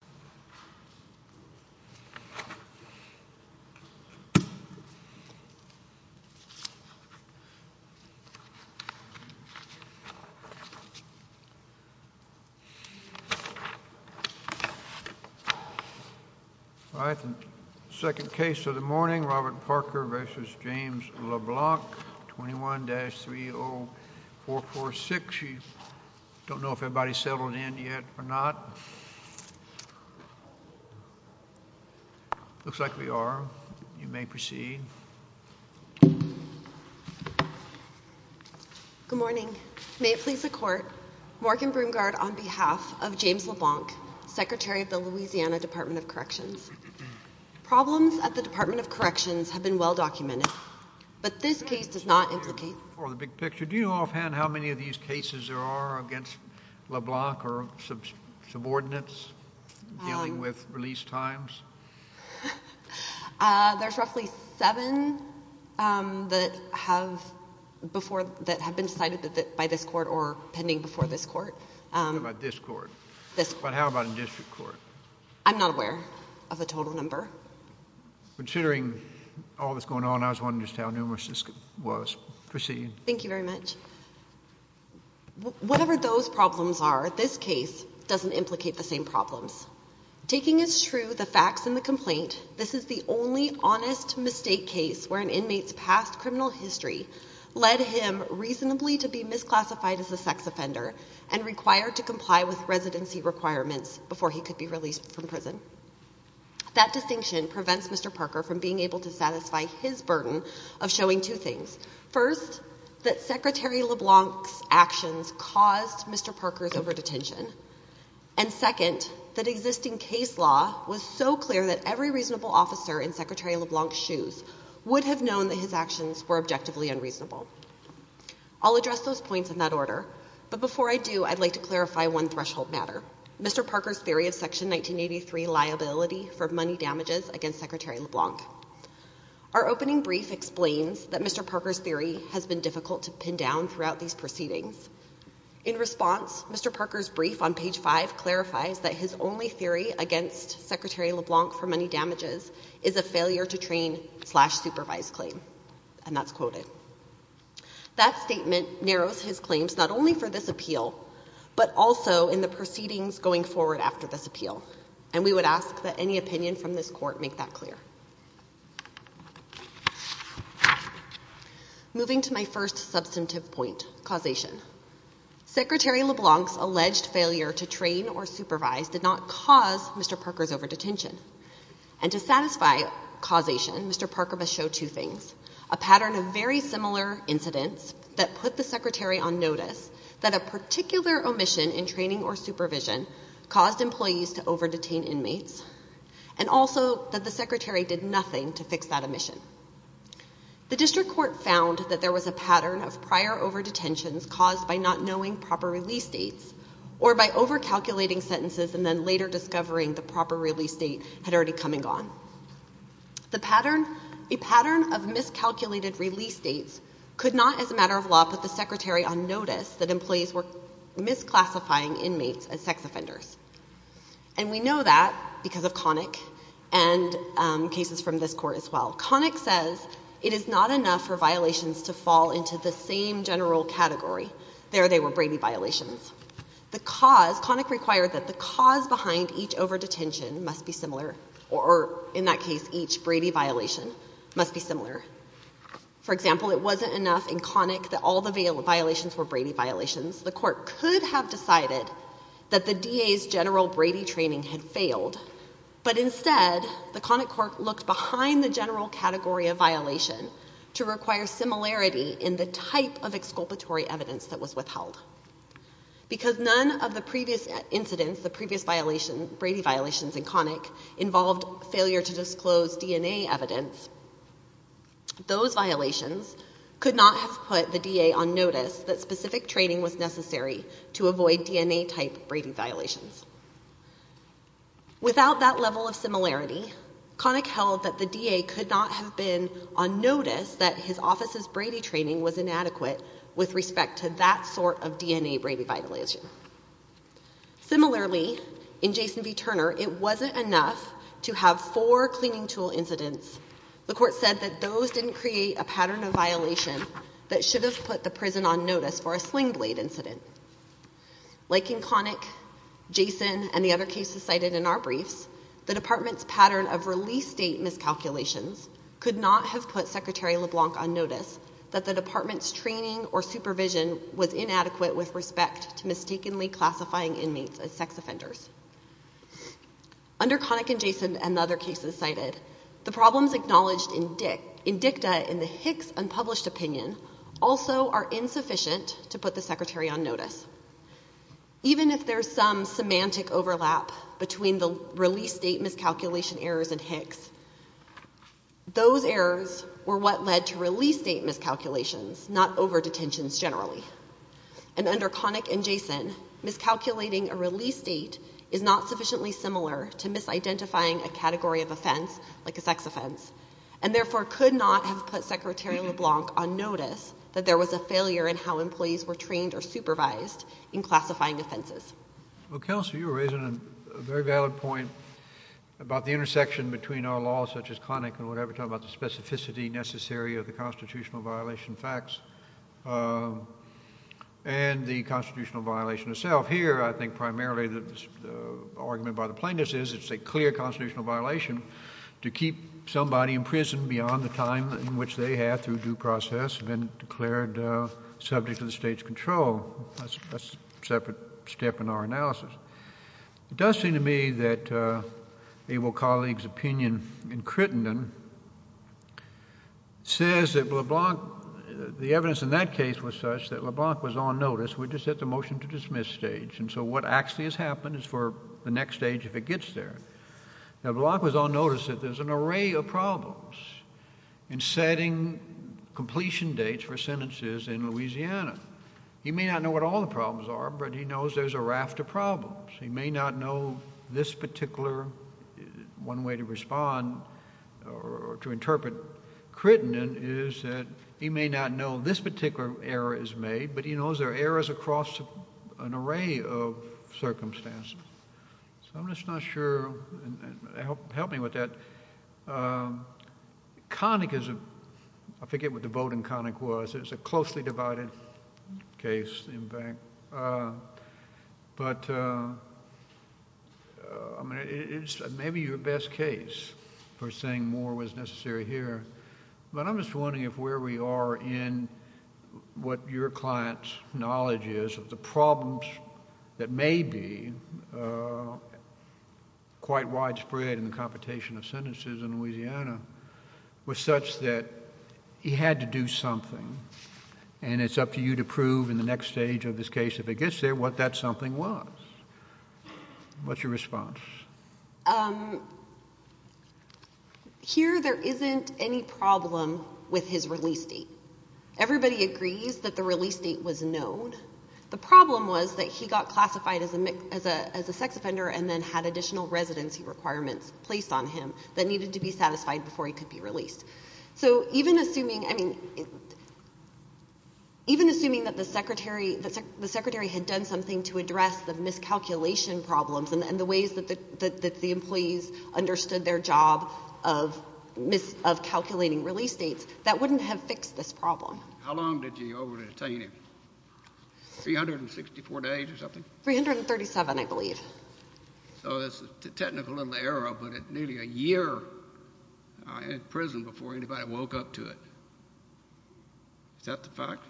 v. James LeBlanc 21-30446. You don't know if everybody's settled in yet or not. Looks like we are. You may proceed. Good morning. May it please the Court. Morgan Broomgard on behalf of James LeBlanc, Secretary of the Louisiana Department of Corrections. Problems at the Department of Corrections have been well documented. But this case does not implicate... Do you know offhand how many of these cases there are against LeBlanc or subordinates dealing with release times? There's roughly seven that have been cited by this Court or pending before this Court. What about this Court? This Court. But how about in district court? I'm not aware of a total number. Considering all that's going on, I was wondering just how numerous this was. Proceed. Thank you very much. Whatever those problems are, this case doesn't implicate the same problems. Taking as true the facts in the complaint, this is the only honest mistake case where an inmate's past criminal history led him reasonably to be misclassified as a sex offender and required to comply with residency requirements before he could be released from prison. That distinction prevents Mr. Parker from being able to satisfy his burden of showing two things. First, that Secretary LeBlanc's actions caused Mr. Parker's over-detention. And second, that existing case law was so clear that every reasonable officer in Secretary LeBlanc's shoes would have known that his actions were objectively unreasonable. I'll address those points in that order. But before I do, I'd like to clarify one threshold matter, Mr. Parker's theory of Section 1983 liability for money damages against Secretary LeBlanc. Our opening brief explains that Mr. Parker's theory has been difficult to pin down throughout these proceedings. In response, Mr. Parker's brief on page 5 clarifies that his only theory against Secretary LeBlanc for money damages is a failure to train slash supervise claim. And that's quoted. That statement narrows his claims not only for this appeal, but also in the proceedings going forward after this appeal. And we would ask that any opinion from this court make that clear. Moving to my first substantive point, causation. Secretary LeBlanc's alleged failure to train or supervise did not cause Mr. Parker's over-detention. And to satisfy causation, Mr. Parker must show two things. A pattern of very similar incidents that put the Secretary on notice that a particular omission in training or supervision caused employees to over-detain inmates. And also that the Secretary did nothing to fix that omission. The district court found that there was a pattern of prior over-detentions caused by not knowing proper release dates, or by over-calculating sentences and then later discovering the proper release date had already come and gone. A pattern of miscalculated release dates could not, as a matter of law, put the Secretary on notice that employees were misclassifying inmates as sex offenders. And we know that because of Connick and cases from this court as well. Connick says it is not enough for violations to fall into the same general category. There they were Brady violations. The cause, Connick required that the cause behind each over-detention must be similar, or in that case, each Brady violation must be similar. For example, it wasn't enough in Connick that all the violations were Brady violations. The court could have decided that the DA's general Brady training had failed. But instead, the Connick court looked behind the general category of violation to require similarity in the type of exculpatory evidence that was withheld. Because none of the previous incidents, the previous Brady violations in Connick, involved failure to disclose DNA evidence, those violations could not have put the DA on notice that specific training was necessary to avoid DNA type Brady violations. Without that level of similarity, Connick held that the DA could not have been on notice that his office's Brady training was inadequate with respect to that sort of DNA Brady violation. Similarly, in Jason v. Turner, it wasn't enough to have four cleaning tool incidents. The court said that those didn't create a pattern of violation that should have put the prison on notice for a sling blade incident. Like in Connick, Jason, and the other cases cited in our briefs, the department's pattern of release date miscalculations could not have put Secretary LeBlanc on notice that the department's training or supervision was inadequate with respect to mistakenly classifying inmates as sex offenders. Under Connick and Jason and the other cases cited, the problems acknowledged in dicta in the Hicks unpublished opinion also are insufficient to put the Secretary on notice. Even if there's some semantic overlap between the release date miscalculation errors in Hicks, those errors were what led to release date miscalculations, not over-detentions generally. And under Connick and Jason, miscalculating a release date is not sufficiently similar to misidentifying a category of offense, like a sex offense, and therefore could not have put Secretary LeBlanc on notice that there was a failure in how employees were trained or supervised in classifying offenses. Well, Counselor, you're raising a very valid point about the intersection between our laws, such as Connick and whatever, talking about the specificity necessary of the constitutional violation facts and the constitutional violation itself. Here, I think primarily the argument by the plaintiffs is it's a clear constitutional violation to keep somebody in prison beyond the time in which they have, through due process, been declared subject to the state's control. That's a separate step in our analysis. It does seem to me that Abel colleagues' opinion in Crittenden says that LeBlanc, the evidence in that case was such that LeBlanc was on notice. We're just at the motion-to-dismiss stage, and so what actually has happened is for the next stage, if it gets there, LeBlanc was on notice that there's an array of problems in setting completion dates for sentences in Louisiana. He may not know what all the problems are, but he knows there's a raft of problems. He may not know this particular—one way to respond or to interpret Crittenden is that he may not know this particular error is made, but he knows there are errors across an array of circumstances. I'm just not sure—help me with that. Connick is—I forget what the vote in Connick was. It was a closely divided case, in fact. But it's maybe your best case for saying more was necessary here, but I'm just wondering if where we are in what your client's knowledge is of the problems that may be quite widespread in the computation of sentences in Louisiana was such that he had to do something, and it's up to you to prove in the next stage of this case, if it gets there, what that something was. What's your response? Here there isn't any problem with his release date. Everybody agrees that the release date was known. The problem was that he got classified as a sex offender and then had additional residency requirements placed on him that needed to be satisfied before he could be released. So even assuming—I mean, even assuming that the secretary had done something to address the miscalculation problems and the ways that the employees understood their job of calculating release dates, that wouldn't have fixed this problem. How long did you over-detain him? 364 days or something? 337, I believe. So it's a technical error, but nearly a year in prison before anybody woke up to it. Is that the fact?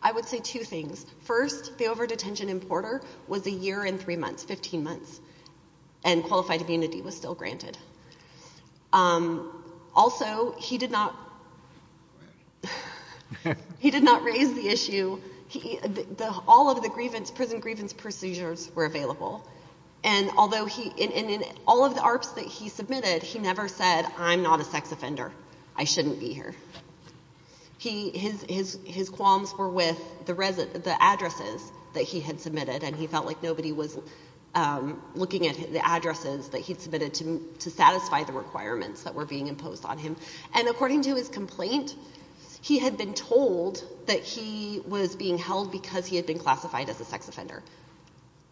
I would say two things. First, the over-detention in Porter was a year and three months, 15 months, and qualified immunity was still granted. Also, he did not raise the issue—all of the prison grievance procedures were available. And in all of the ARPS that he submitted, he never said, I'm not a sex offender. I shouldn't be here. His qualms were with the addresses that he had submitted, and he felt like nobody was looking at the addresses that he had submitted to satisfy the requirements that were being imposed on him. And according to his complaint, he had been told that he was being held because he had been classified as a sex offender.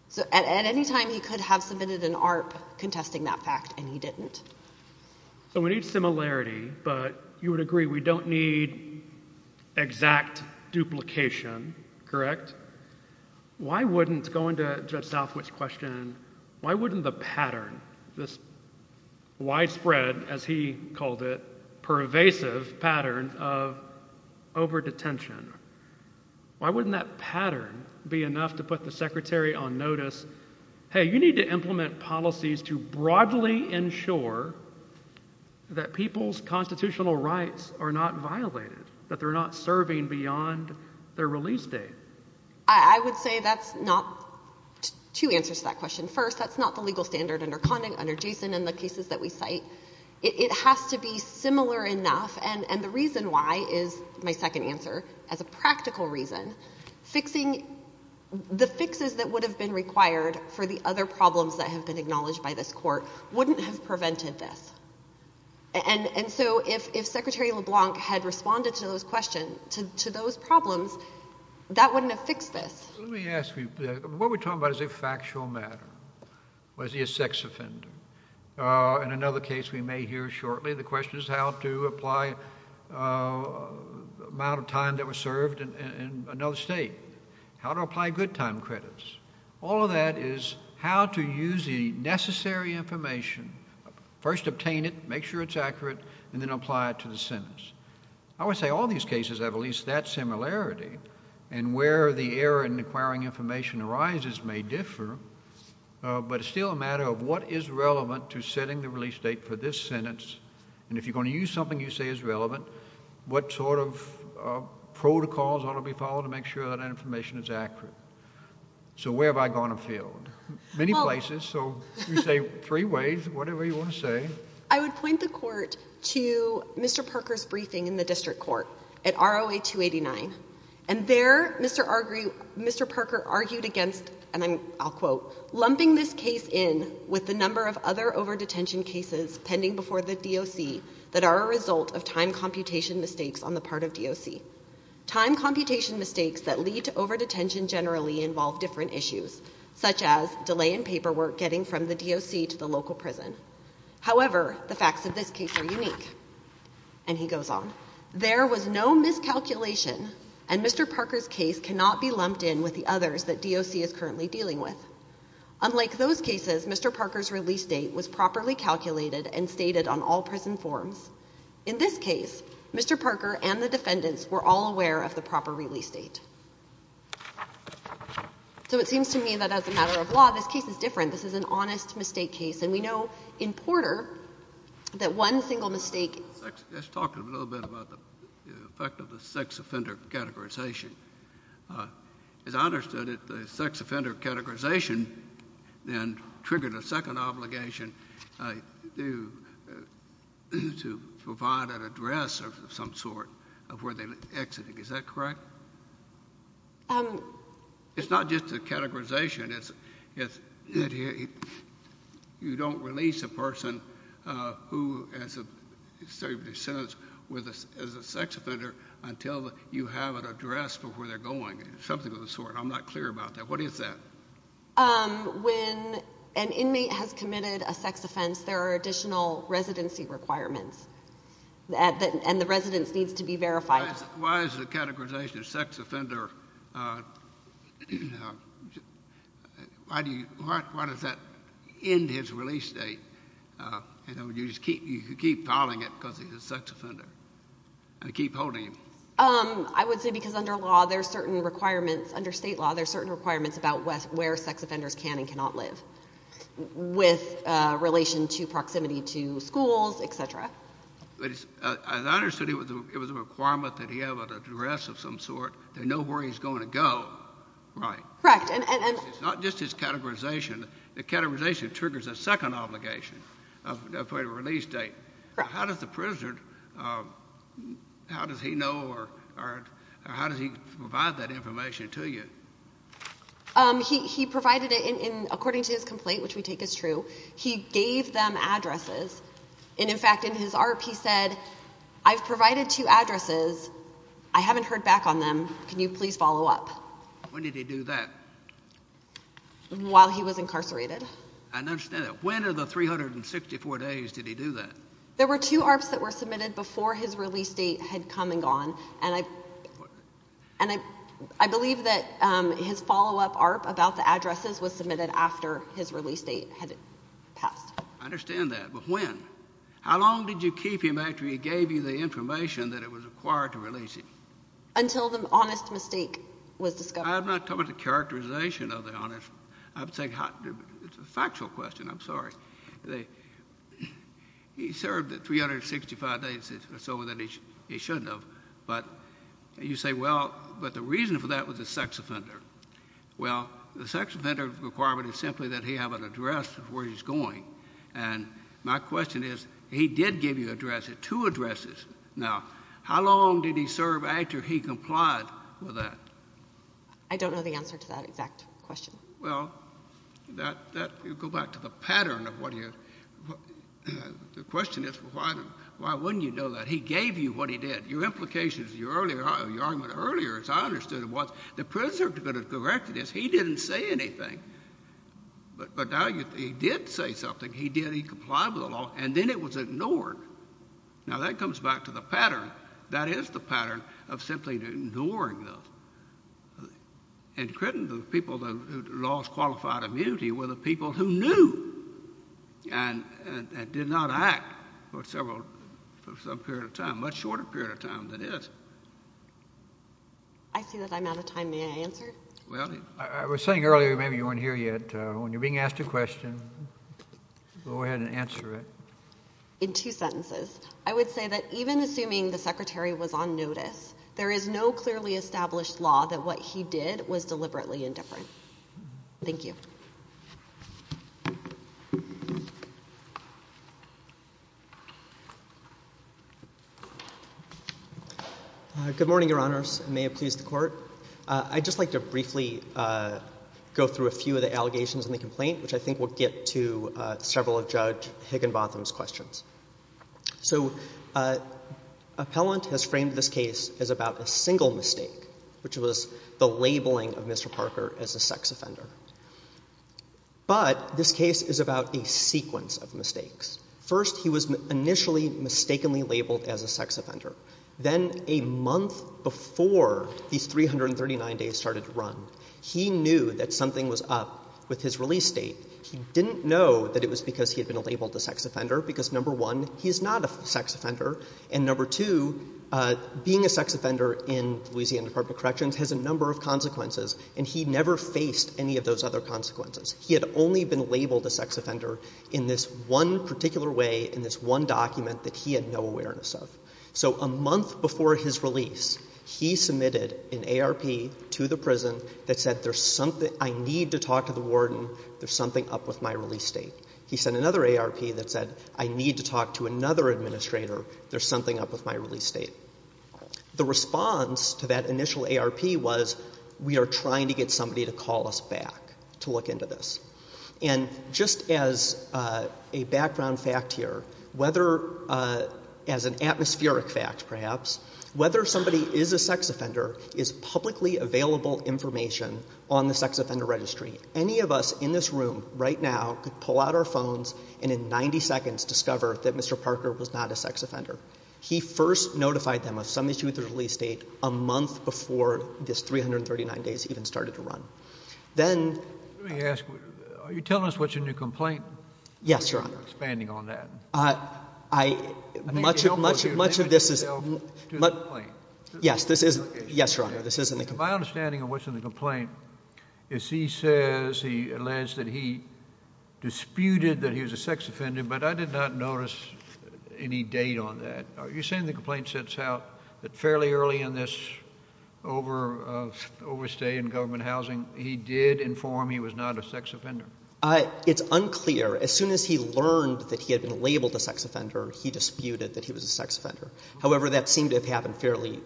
So at any time he could have submitted an ARP contesting that fact, and he didn't. So we need similarity, but you would agree we don't need exact duplication, correct? Why wouldn't—going to Judge Southwick's question—why wouldn't the pattern, this widespread, as he called it, pervasive pattern of over-detention, why wouldn't that pattern be enough to put the secretary on notice, hey, you need to implement policies to broadly ensure that people's constitutional rights are not violated, that they're not serving beyond their release date? I would say that's not—two answers to that question. First, that's not the legal standard under Condon, under Jason, and the cases that we cite. It has to be similar enough, and the reason why is my second answer. As a practical reason, fixing—the fixes that would have been required for the other problems that have been acknowledged by this Court wouldn't have prevented this. And so if Secretary LeBlanc had responded to those questions, to those problems, that wouldn't have fixed this. Let me ask you, what we're talking about is a factual matter. Was he a sex offender? In another case we may hear shortly, the question is how to apply the amount of time that was served in another state, how to apply good time credits. All of that is how to use the necessary information, first obtain it, make sure it's accurate, and then apply it to the sentence. I would say all these cases have at least that similarity, and where the error in acquiring information arises may differ, but it's still a matter of what is relevant to setting the release date for this sentence, and if you're going to use something you say is relevant, what sort of protocols ought to be followed to make sure that information is accurate. So where have I gone afield? Many places, so you say three ways, whatever you want to say. I would point the Court to Mr. Parker's briefing in the District Court at ROA 289, and there Mr. Parker argued against, and I'll quote, lumping this case in with the number of other overdetention cases pending before the DOC that are a result of time computation mistakes on the part of DOC. Time computation mistakes that lead to overdetention generally involve different issues, such as delay in paperwork getting from the DOC to the local prison. However, the facts of this case are unique, and he goes on. There was no miscalculation, and Mr. Parker's case cannot be lumped in with the others that DOC is currently dealing with. Unlike those cases, Mr. Parker's release date was properly calculated and stated on all prison forms. In this case, Mr. Parker and the defendants were all aware of the proper release date. So it seems to me that as a matter of law, this case is different. This is an honest mistake case, and we know in Porter that one single mistake Let's talk a little bit about the effect of the sex offender categorization. As I understood it, the sex offender categorization then triggered a second obligation to provide an address of some sort of where they were exiting. Is that correct? It's not just a categorization. You don't release a person who is serving a sentence as a sex offender until you have an address for where they're going, something of the sort. I'm not clear about that. What is that? When an inmate has committed a sex offense, there are additional residency requirements, and the residence needs to be verified. Why is the categorization of sex offender, why does that end his release date? You just keep filing it because he's a sex offender and keep holding him. I would say because under state law, there are certain requirements about where sex offenders can and cannot live with relation to proximity to schools, etc. As I understood it, it was a requirement that he have an address of some sort, they know where he's going to go. Right. Correct. It's not just his categorization. The categorization triggers a second obligation for a release date. How does the prisoner, how does he know or how does he provide that information to you? He provided it according to his complaint, which we take as true. He gave them addresses. In fact, in his ARP, he said, I've provided two addresses. I haven't heard back on them. Can you please follow up? When did he do that? While he was incarcerated. I don't understand that. When of the 364 days did he do that? There were two ARPs that were submitted before his release date had come and gone. And I believe that his follow-up ARP about the addresses was submitted after his release date had passed. I understand that. But when? How long did you keep him after he gave you the information that it was required to release him? Until the honest mistake was discovered. I'm not talking about the characterization of the honest. I'm saying it's a factual question. I'm sorry. He served 365 days or so that he shouldn't have. But you say, well, but the reason for that was a sex offender. Well, the sex offender requirement is simply that he have an address of where he's going. And my question is, he did give you addresses, two addresses. Now, how long did he serve after he complied with that? I don't know the answer to that exact question. Well, that would go back to the pattern of what he had. The question is, why wouldn't you know that? He gave you what he did. Your implications, your argument earlier, as I understood it, was the prisoner could have corrected this. He didn't say anything. But now he did say something. He did comply with the law. And then it was ignored. Now, that comes back to the pattern. That is the pattern of simply ignoring those. And the people who lost qualified immunity were the people who knew and did not act for some period of time, a much shorter period of time than this. I see that I'm out of time. May I answer? Well, I was saying earlier, maybe you weren't here yet, when you're being asked a question, go ahead and answer it. In two sentences, I would say that even assuming the Secretary was on notice, there is no clearly established law that what he did was deliberately indifferent. Thank you. Good morning, Your Honors. May it please the Court. I'd just like to briefly go through a few of the allegations in the complaint, which I think will get to several of Judge Higginbotham's questions. So Appellant has framed this case as about a single mistake, which was the labeling of Mr. Parker as a sex offender. But this case is about a sequence of mistakes. First, he was initially mistakenly labeled as a sex offender. Then a month before these 339 days started to run, he knew that something was up with his release date. He didn't know that it was because he had been labeled a sex offender, because, number one, he's not a sex offender, and number two, being a sex offender in the Louisiana Department of Corrections has a number of consequences, and he never faced any of those other consequences. He had only been labeled a sex offender in this one particular way, in this one document, that he had no awareness of. So a month before his release, he submitted an ARP to the prison that said, I need to talk to the warden, there's something up with my release date. He sent another ARP that said, I need to talk to another administrator, there's something up with my release date. The response to that initial ARP was, we are trying to get somebody to call us back to look into this. And just as a background fact here, whether, as an atmospheric fact perhaps, whether somebody is a sex offender is publicly available information on the Sex Offender Registry. Any of us in this room right now could pull out our phones and in 90 seconds discover that Mr. Parker was not a sex offender. He first notified them of some issue with his release date a month before this 339 days even started to run. Then— Let me ask, are you telling us what's in your complaint? Yes, Your Honor. Expanding on that. Much of this is— To the complaint. Yes, this is—yes, Your Honor, this is in the complaint. My understanding of what's in the complaint is he says he alleged that he disputed that he was a sex offender, but I did not notice any date on that. Are you saying the complaint sets out that fairly early in this overstay in government housing, he did inform he was not a sex offender? It's unclear. As soon as he learned that he had been labeled a sex offender, he disputed that he was a sex offender. However, that seemed to have happened fairly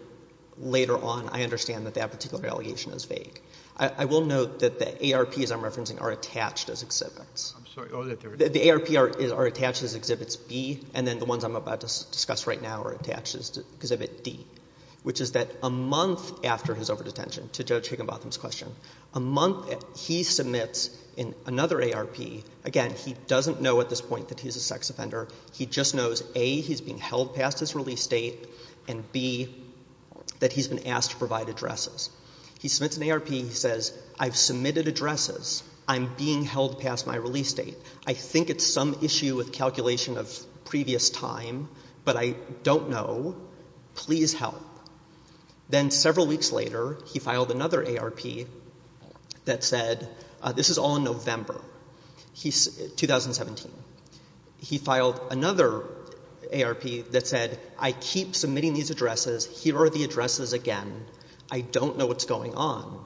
later on. I understand that that particular allegation is vague. I will note that the ARPs I'm referencing are attached as exhibits. I'm sorry. The ARPs are attached as Exhibits B, and then the ones I'm about to discuss right now are attached as Exhibit D, which is that a month after his overdetention, to Judge Higginbotham's question, a month that he submits in another ARP, again, he doesn't know at this point that he's a sex offender. He just knows, A, he's being held past his release date, and B, that he's been asked to provide addresses. He submits an ARP. He says, I've submitted addresses. I'm being held past my release date. I think it's some issue with calculation of previous time, but I don't know. Please help. Then several weeks later, he filed another ARP that said, this is all in November 2017. He filed another ARP that said, I keep submitting these addresses. Here are the addresses again. I don't know what's going on.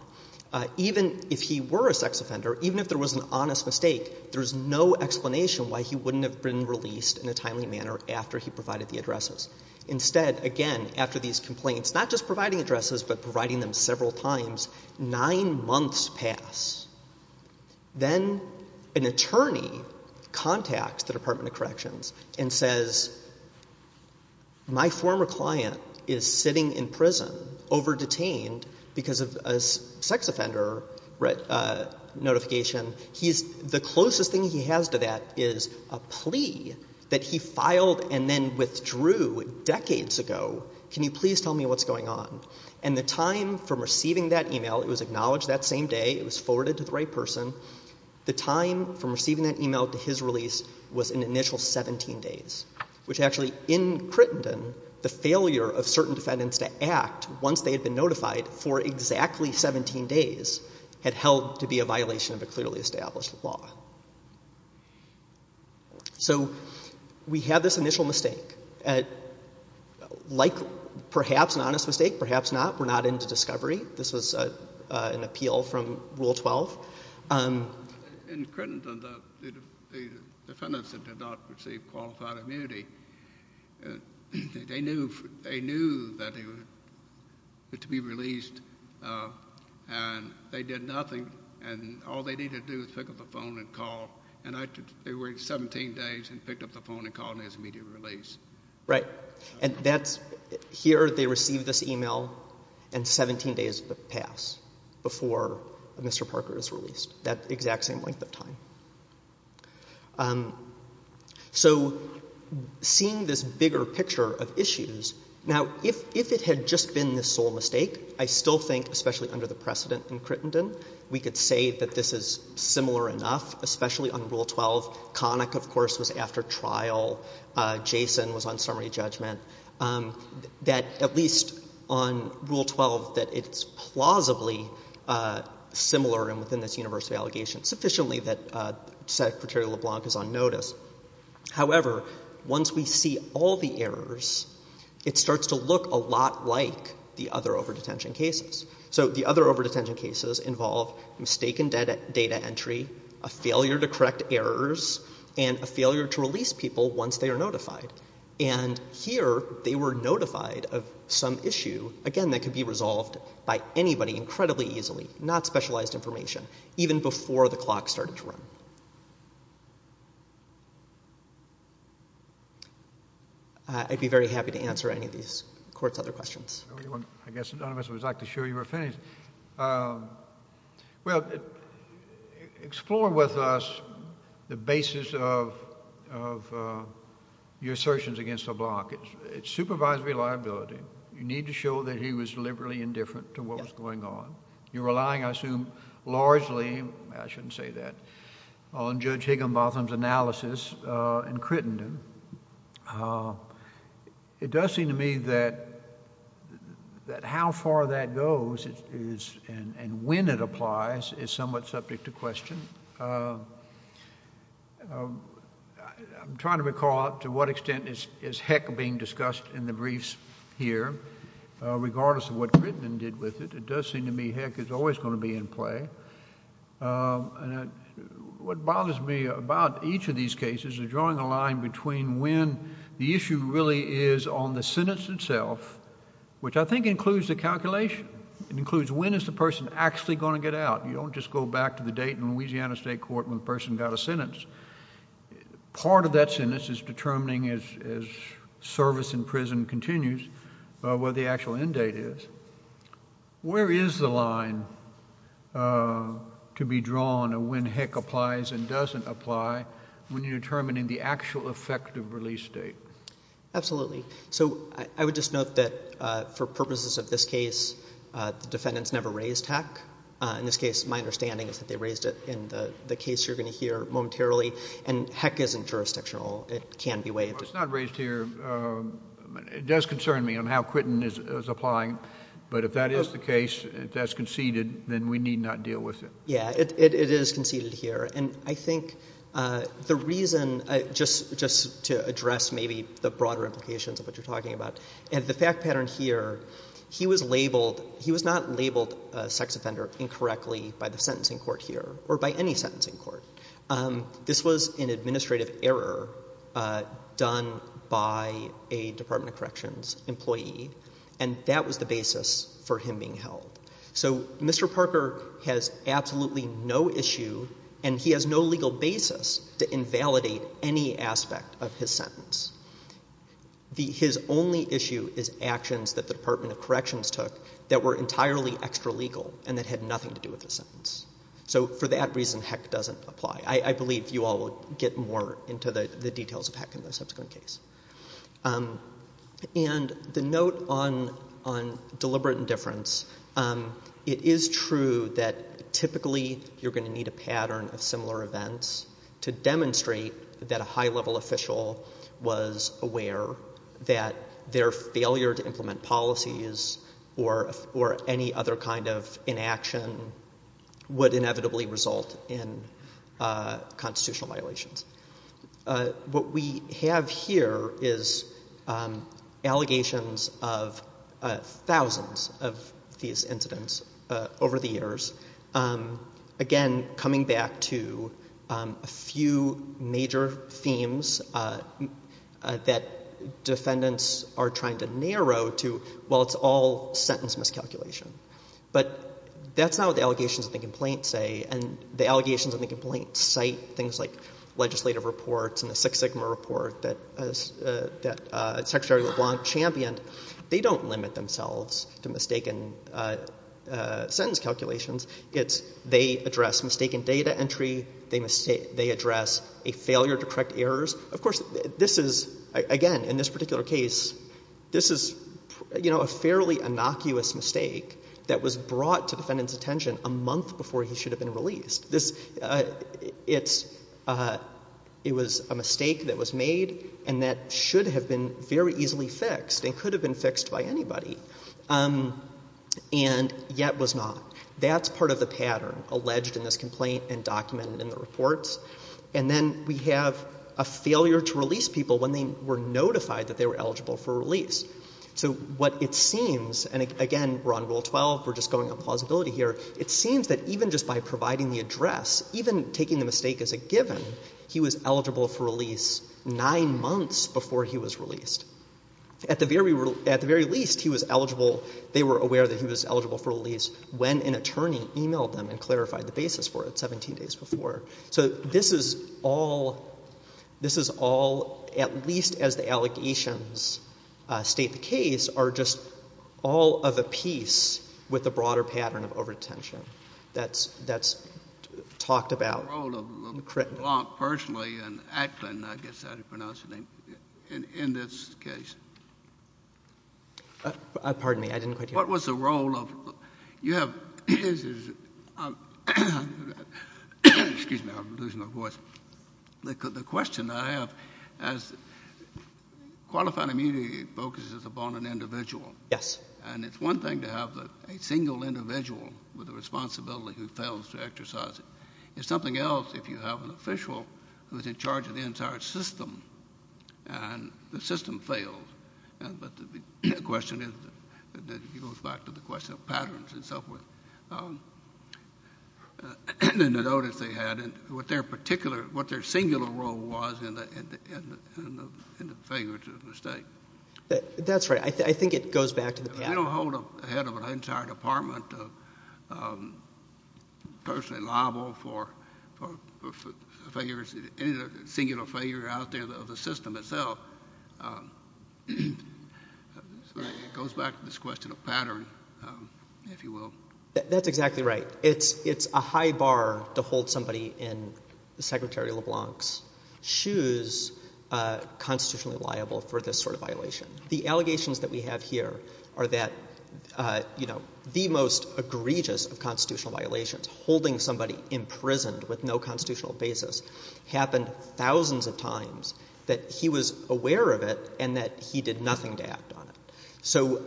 Even if he were a sex offender, even if there was an honest mistake, there's no explanation why he wouldn't have been released in a timely manner after he provided the addresses. Instead, again, after these complaints, not just providing addresses but providing them several times, nine months pass. Then an attorney contacts the Department of Corrections and says, my former client is sitting in prison, over-detained because of a sex offender notification. The closest thing he has to that is a plea that he filed and then withdrew decades ago. Can you please tell me what's going on? And the time from receiving that e-mail, it was acknowledged that same day, it was forwarded to the right person. The time from receiving that e-mail to his release was an initial 17 days, which actually, in Crittenden, the failure of certain defendants to act once they had been notified for exactly 17 days had held to be a violation of a clearly established law. So we have this initial mistake. Like perhaps an honest mistake, perhaps not. We're not into discovery. This was an appeal from Rule 12. In Crittenden, the defendants that did not receive qualified immunity, they knew that they were to be released, and they did nothing. And all they needed to do was pick up the phone and call. And they waited 17 days and picked up the phone and called in his immediate release. Right. And here they received this e-mail and 17 days pass before Mr. Parker is released, that exact same length of time. So seeing this bigger picture of issues, now, if it had just been this sole mistake, I still think, especially under the precedent in Crittenden, we could say that this is similar enough, especially on Rule 12. Connick, of course, was after trial. Jason was on summary judgment. That at least on Rule 12, that it's plausibly similar and within this universal sufficiently that Secretary LeBlanc is on notice. However, once we see all the errors, it starts to look a lot like the other over-detention cases. So the other over-detention cases involve mistaken data entry, a failure to correct errors, and a failure to release people once they are notified. And here they were notified of some issue, again, that could be resolved by anybody incredibly easily, not specialized information, even before the clock started to run. I'd be very happy to answer any of these courts' other questions. I guess none of us was exactly sure you were finished. Well, explore with us the basis of your assertions against LeBlanc. It's supervised reliability. You need to show that he was deliberately indifferent to what was going on. You're relying, I assume, largely, I shouldn't say that, on Judge Higginbotham's analysis in Crittenden. It does seem to me that how far that goes and when it applies is somewhat subject to question. I'm trying to recall to what extent is heck being discussed in the briefs here, regardless of what Crittenden did with it. It does seem to me heck is always going to be in play. What bothers me about each of these cases is drawing a line between when the issue really is on the sentence itself, which I think includes the calculation. It includes when is the person actually going to get out. You don't just go back to the date in Louisiana State Court when the person got a sentence. Part of that sentence is determining as service in prison continues what the actual end date is. Where is the line to be drawn of when heck applies and doesn't apply when you're determining the actual effective release date? Absolutely. So I would just note that for purposes of this case, the defendants never raised heck. In this case, my understanding is that they raised it. In the case you're going to hear momentarily, and heck isn't jurisdictional. It can be waived. It's not raised here. It does concern me on how Crittenden is applying. But if that is the case, if that's conceded, then we need not deal with it. Yeah, it is conceded here. And I think the reason, just to address maybe the broader implications of what you're talking about, and the fact pattern here, he was not labeled a sex offender incorrectly by the sentencing court here or by any sentencing court. This was an administrative error done by a Department of Corrections employee, and that was the basis for him being held. So Mr. Parker has absolutely no issue, and he has no legal basis to invalidate any aspect of his sentence. His only issue is actions that the Department of Corrections took that were entirely extralegal and that had nothing to do with the sentence. So for that reason, heck doesn't apply. I believe you all will get more into the details of heck in the subsequent case. And the note on deliberate indifference, it is true that typically you're going to need a pattern of similar events to demonstrate that a high-level official was aware that their failure to implement policies or any other kind of inaction would inevitably result in constitutional violations. What we have here is allegations of thousands of these incidents over the years. Again, coming back to a few major themes that defendants are trying to narrow to, well, it's all sentence miscalculation. But that's not what the allegations of the complaint say, and the allegations of the complaint cite things like legislative reports and the Six Sigma report that Secretary LeBlanc championed. They don't limit themselves to mistaken sentence calculations. It's they address mistaken data entry. They address a failure to correct errors. Of course, this is, again, in this particular case, this is a fairly innocuous mistake that was brought to defendant's attention a month before he should have been released. It was a mistake that was made and that should have been very easily fixed and could have been fixed by anybody and yet was not. That's part of the pattern alleged in this complaint and documented in the reports. And then we have a failure to release people when they were notified that they were eligible for release. So what it seems, and again, we're on Rule 12, we're just going on plausibility here, it seems that even just by providing the address, even taking the mistake as a given, he was eligible for release nine months before he was released. At the very least, he was eligible, they were aware that he was eligible for release when an attorney emailed them and clarified the basis for it 17 days before. So this is all, at least as the allegations state the case, are just all of a piece with a broader pattern of over-detention that's talked about. What was the role of Blanc personally and Atkin, I guess that's how you pronounce his name, in this case? Pardon me, I didn't quite hear. What was the role of, you have, excuse me, I'm losing my voice. The question I have is qualified immunity focuses upon an individual. Yes. And it's one thing to have a single individual with a responsibility who fails to exercise it. It's something else if you have an official who's in charge of the entire system and the system fails. But the question is, it goes back to the question of patterns and so forth, and the notice they had and what their singular role was in the failure to state. That's right. I think it goes back to the pattern. We don't hold a head of an entire department personally liable for failures, any singular failure out there of the system itself. It goes back to this question of pattern, if you will. That's exactly right. It's a high bar to hold somebody in Secretary LeBlanc's shoes constitutionally liable for this sort of violation. The allegations that we have here are that, you know, the most egregious of constitutional violations, holding somebody imprisoned with no constitutional basis, happened thousands of times that he was aware of it and that he did nothing to act on it. So,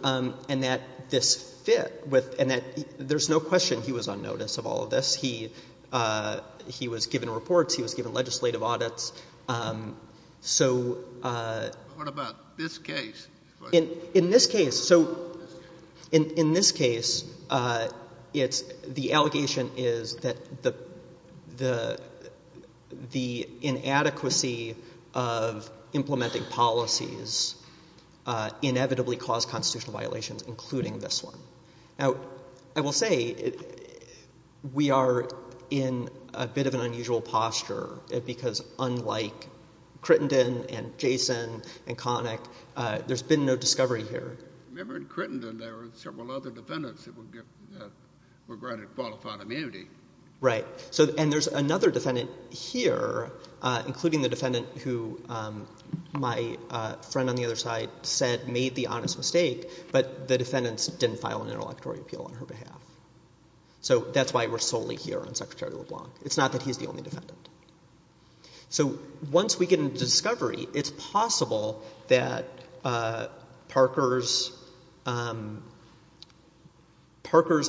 and that this fit with, and that there's no question he was on notice of all of this. He was given reports. He was given legislative audits. So. What about this case? In this case. So in this case, it's the allegation is that the inadequacy of implementing policies inevitably caused constitutional violations, including this one. Now, I will say we are in a bit of an unusual posture because unlike Crittenden and Jason and Connick, there's been no discovery here. Remember in Crittenden there were several other defendants that were granted qualified immunity. Right. And there's another defendant here, including the defendant who my friend on the other side said made the honest mistake, but the defendants didn't file an interlocutory appeal on her behalf. So that's why we're solely here on Secretary LeBlanc. It's not that he's the only defendant. So once we get into discovery, it's possible that Parker's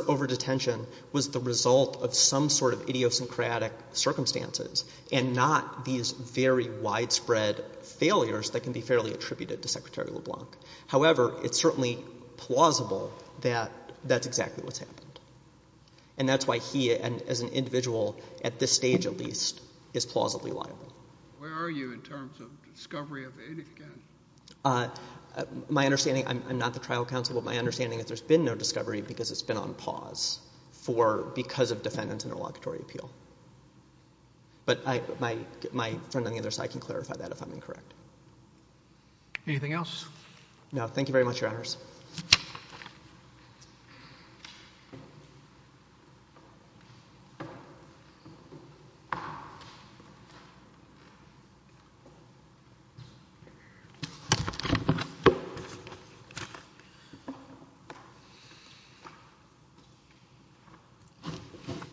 over-detention was the result of some sort of idiosyncratic circumstances and not these very widespread failures that can be fairly attributed to Secretary LeBlanc. However, it's certainly plausible that that's exactly what's happened. And that's why he, as an individual, at this stage at least, is plausibly liable. Where are you in terms of discovery of it again? My understanding, I'm not the trial counsel, but my understanding is there's been no discovery because it's been on pause because of defendants' interlocutory appeal. But my friend on the other side can clarify that if I'm incorrect. Anything else? No. Thank you very much, Your Honors.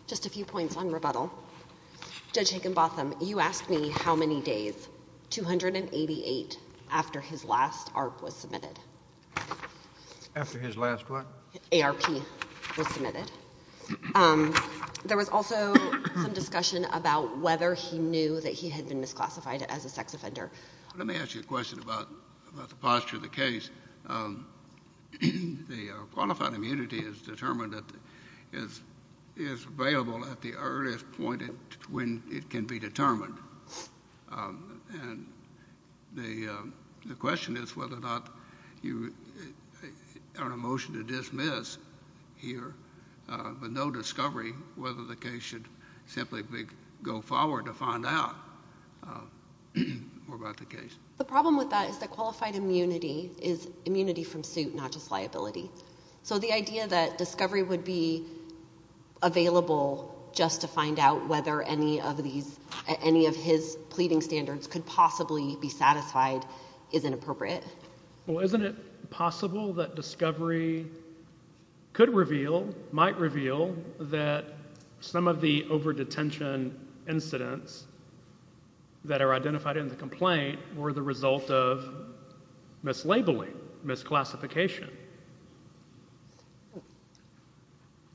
Just a few points on rebuttal. Judge Higginbotham, you asked me how many days, 288, after his last ARP was submitted. After his last what? ARP was submitted. There was also some discussion about whether he knew that he had been misclassified as a sex offender. Let me ask you a question about the posture of the case. The qualified immunity is determined that it is available at the earliest point when it can be determined. And the question is whether or not you are in a motion to dismiss here, but no discovery whether the case should simply go forward to find out more about the case. The problem with that is that qualified immunity is immunity from suit, not just liability. So the idea that discovery would be available just to find out whether any of his pleading standards could possibly be satisfied is inappropriate. Well, isn't it possible that discovery could reveal, might reveal, that some of the over-detention incidents that are identified in the complaint were the result of mislabeling, misclassification?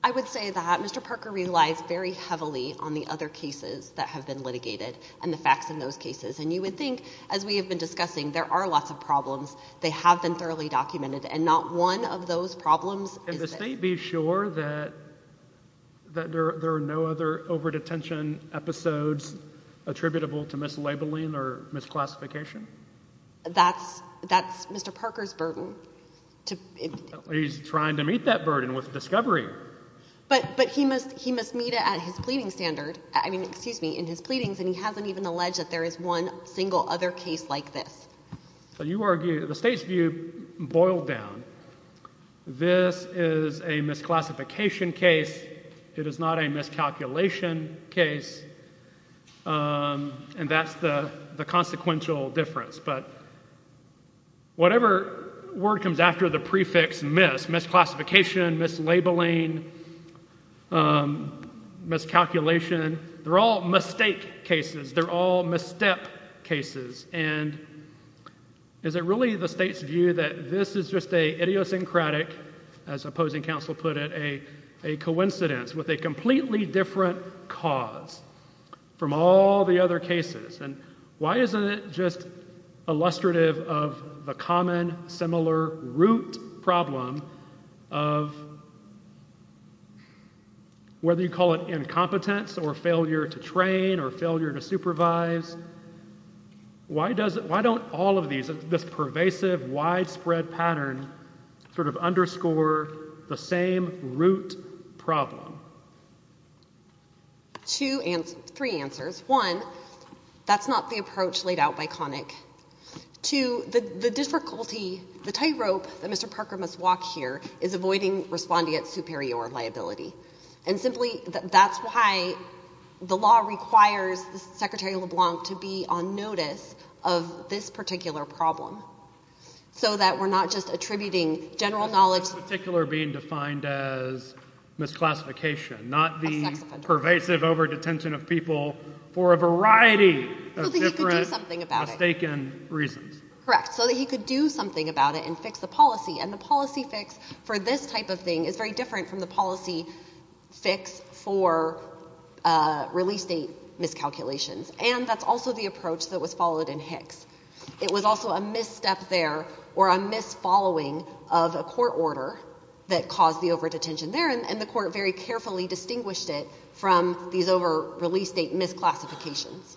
I would say that Mr. Parker relies very heavily on the other cases that have been litigated and the facts in those cases. And you would think, as we have been discussing, there are lots of problems. They have been thoroughly documented. And not one of those problems is— Can the State be sure that there are no other over-detention episodes attributable to mislabeling or misclassification? That's Mr. Parker's burden. He's trying to meet that burden with discovery. But he must meet it at his pleading standard—I mean, excuse me, in his pleadings, and he hasn't even alleged that there is one single other case like this. So you argue—the State's view boiled down. This is a misclassification case. It is not a miscalculation case. And that's the consequential difference. But whatever word comes after the prefix mis—misclassification, mislabeling, miscalculation—they're all mistake cases. They're all misstep cases. And is it really the State's view that this is just an idiosyncratic, as opposing counsel put it, a coincidence with a completely different cause from all the other cases? And why isn't it just illustrative of the common, similar root problem of— whether you call it incompetence or failure to train or failure to supervise, why don't all of these—this pervasive, widespread pattern sort of underscore the same root problem? Two—three answers. One, that's not the approach laid out by Connick. Two, the difficulty, the tightrope that Mr. Parker must walk here is avoiding responding at superior liability. And simply, that's why the law requires Secretary LeBlanc to be on notice of this particular problem, so that we're not just attributing general knowledge— A sex offender. —not the pervasive over-detention of people for a variety of different— So that he could do something about it. —mistaken reasons. Correct. So that he could do something about it and fix the policy. And the policy fix for this type of thing is very different from the policy fix for release date miscalculations. And that's also the approach that was followed in Hicks. It was also a misstep there or a misfollowing of a court order that caused the over-detention there, and the court very carefully distinguished it from these over-release date misclassifications.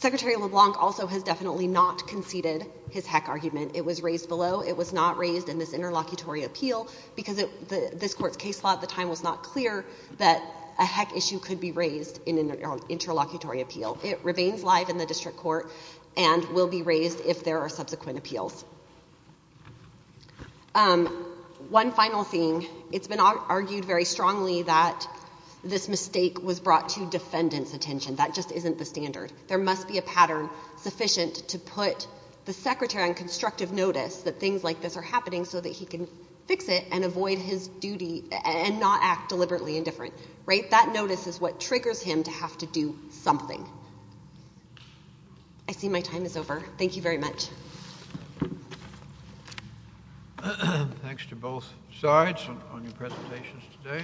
Secretary LeBlanc also has definitely not conceded his heck argument. It was raised below. It was not raised in this interlocutory appeal because this court's case law at the time was not clear that a heck issue could be raised in an interlocutory appeal. It remains live in the district court and will be raised if there are subsequent appeals. One final thing. It's been argued very strongly that this mistake was brought to defendant's attention. That just isn't the standard. There must be a pattern sufficient to put the secretary on constructive notice that things like this are happening so that he can fix it and avoid his duty and not act deliberately indifferent. Right? That notice is what triggers him to have to do something. I see my time is over. Thank you very much. Thanks to both sides on your presentations today.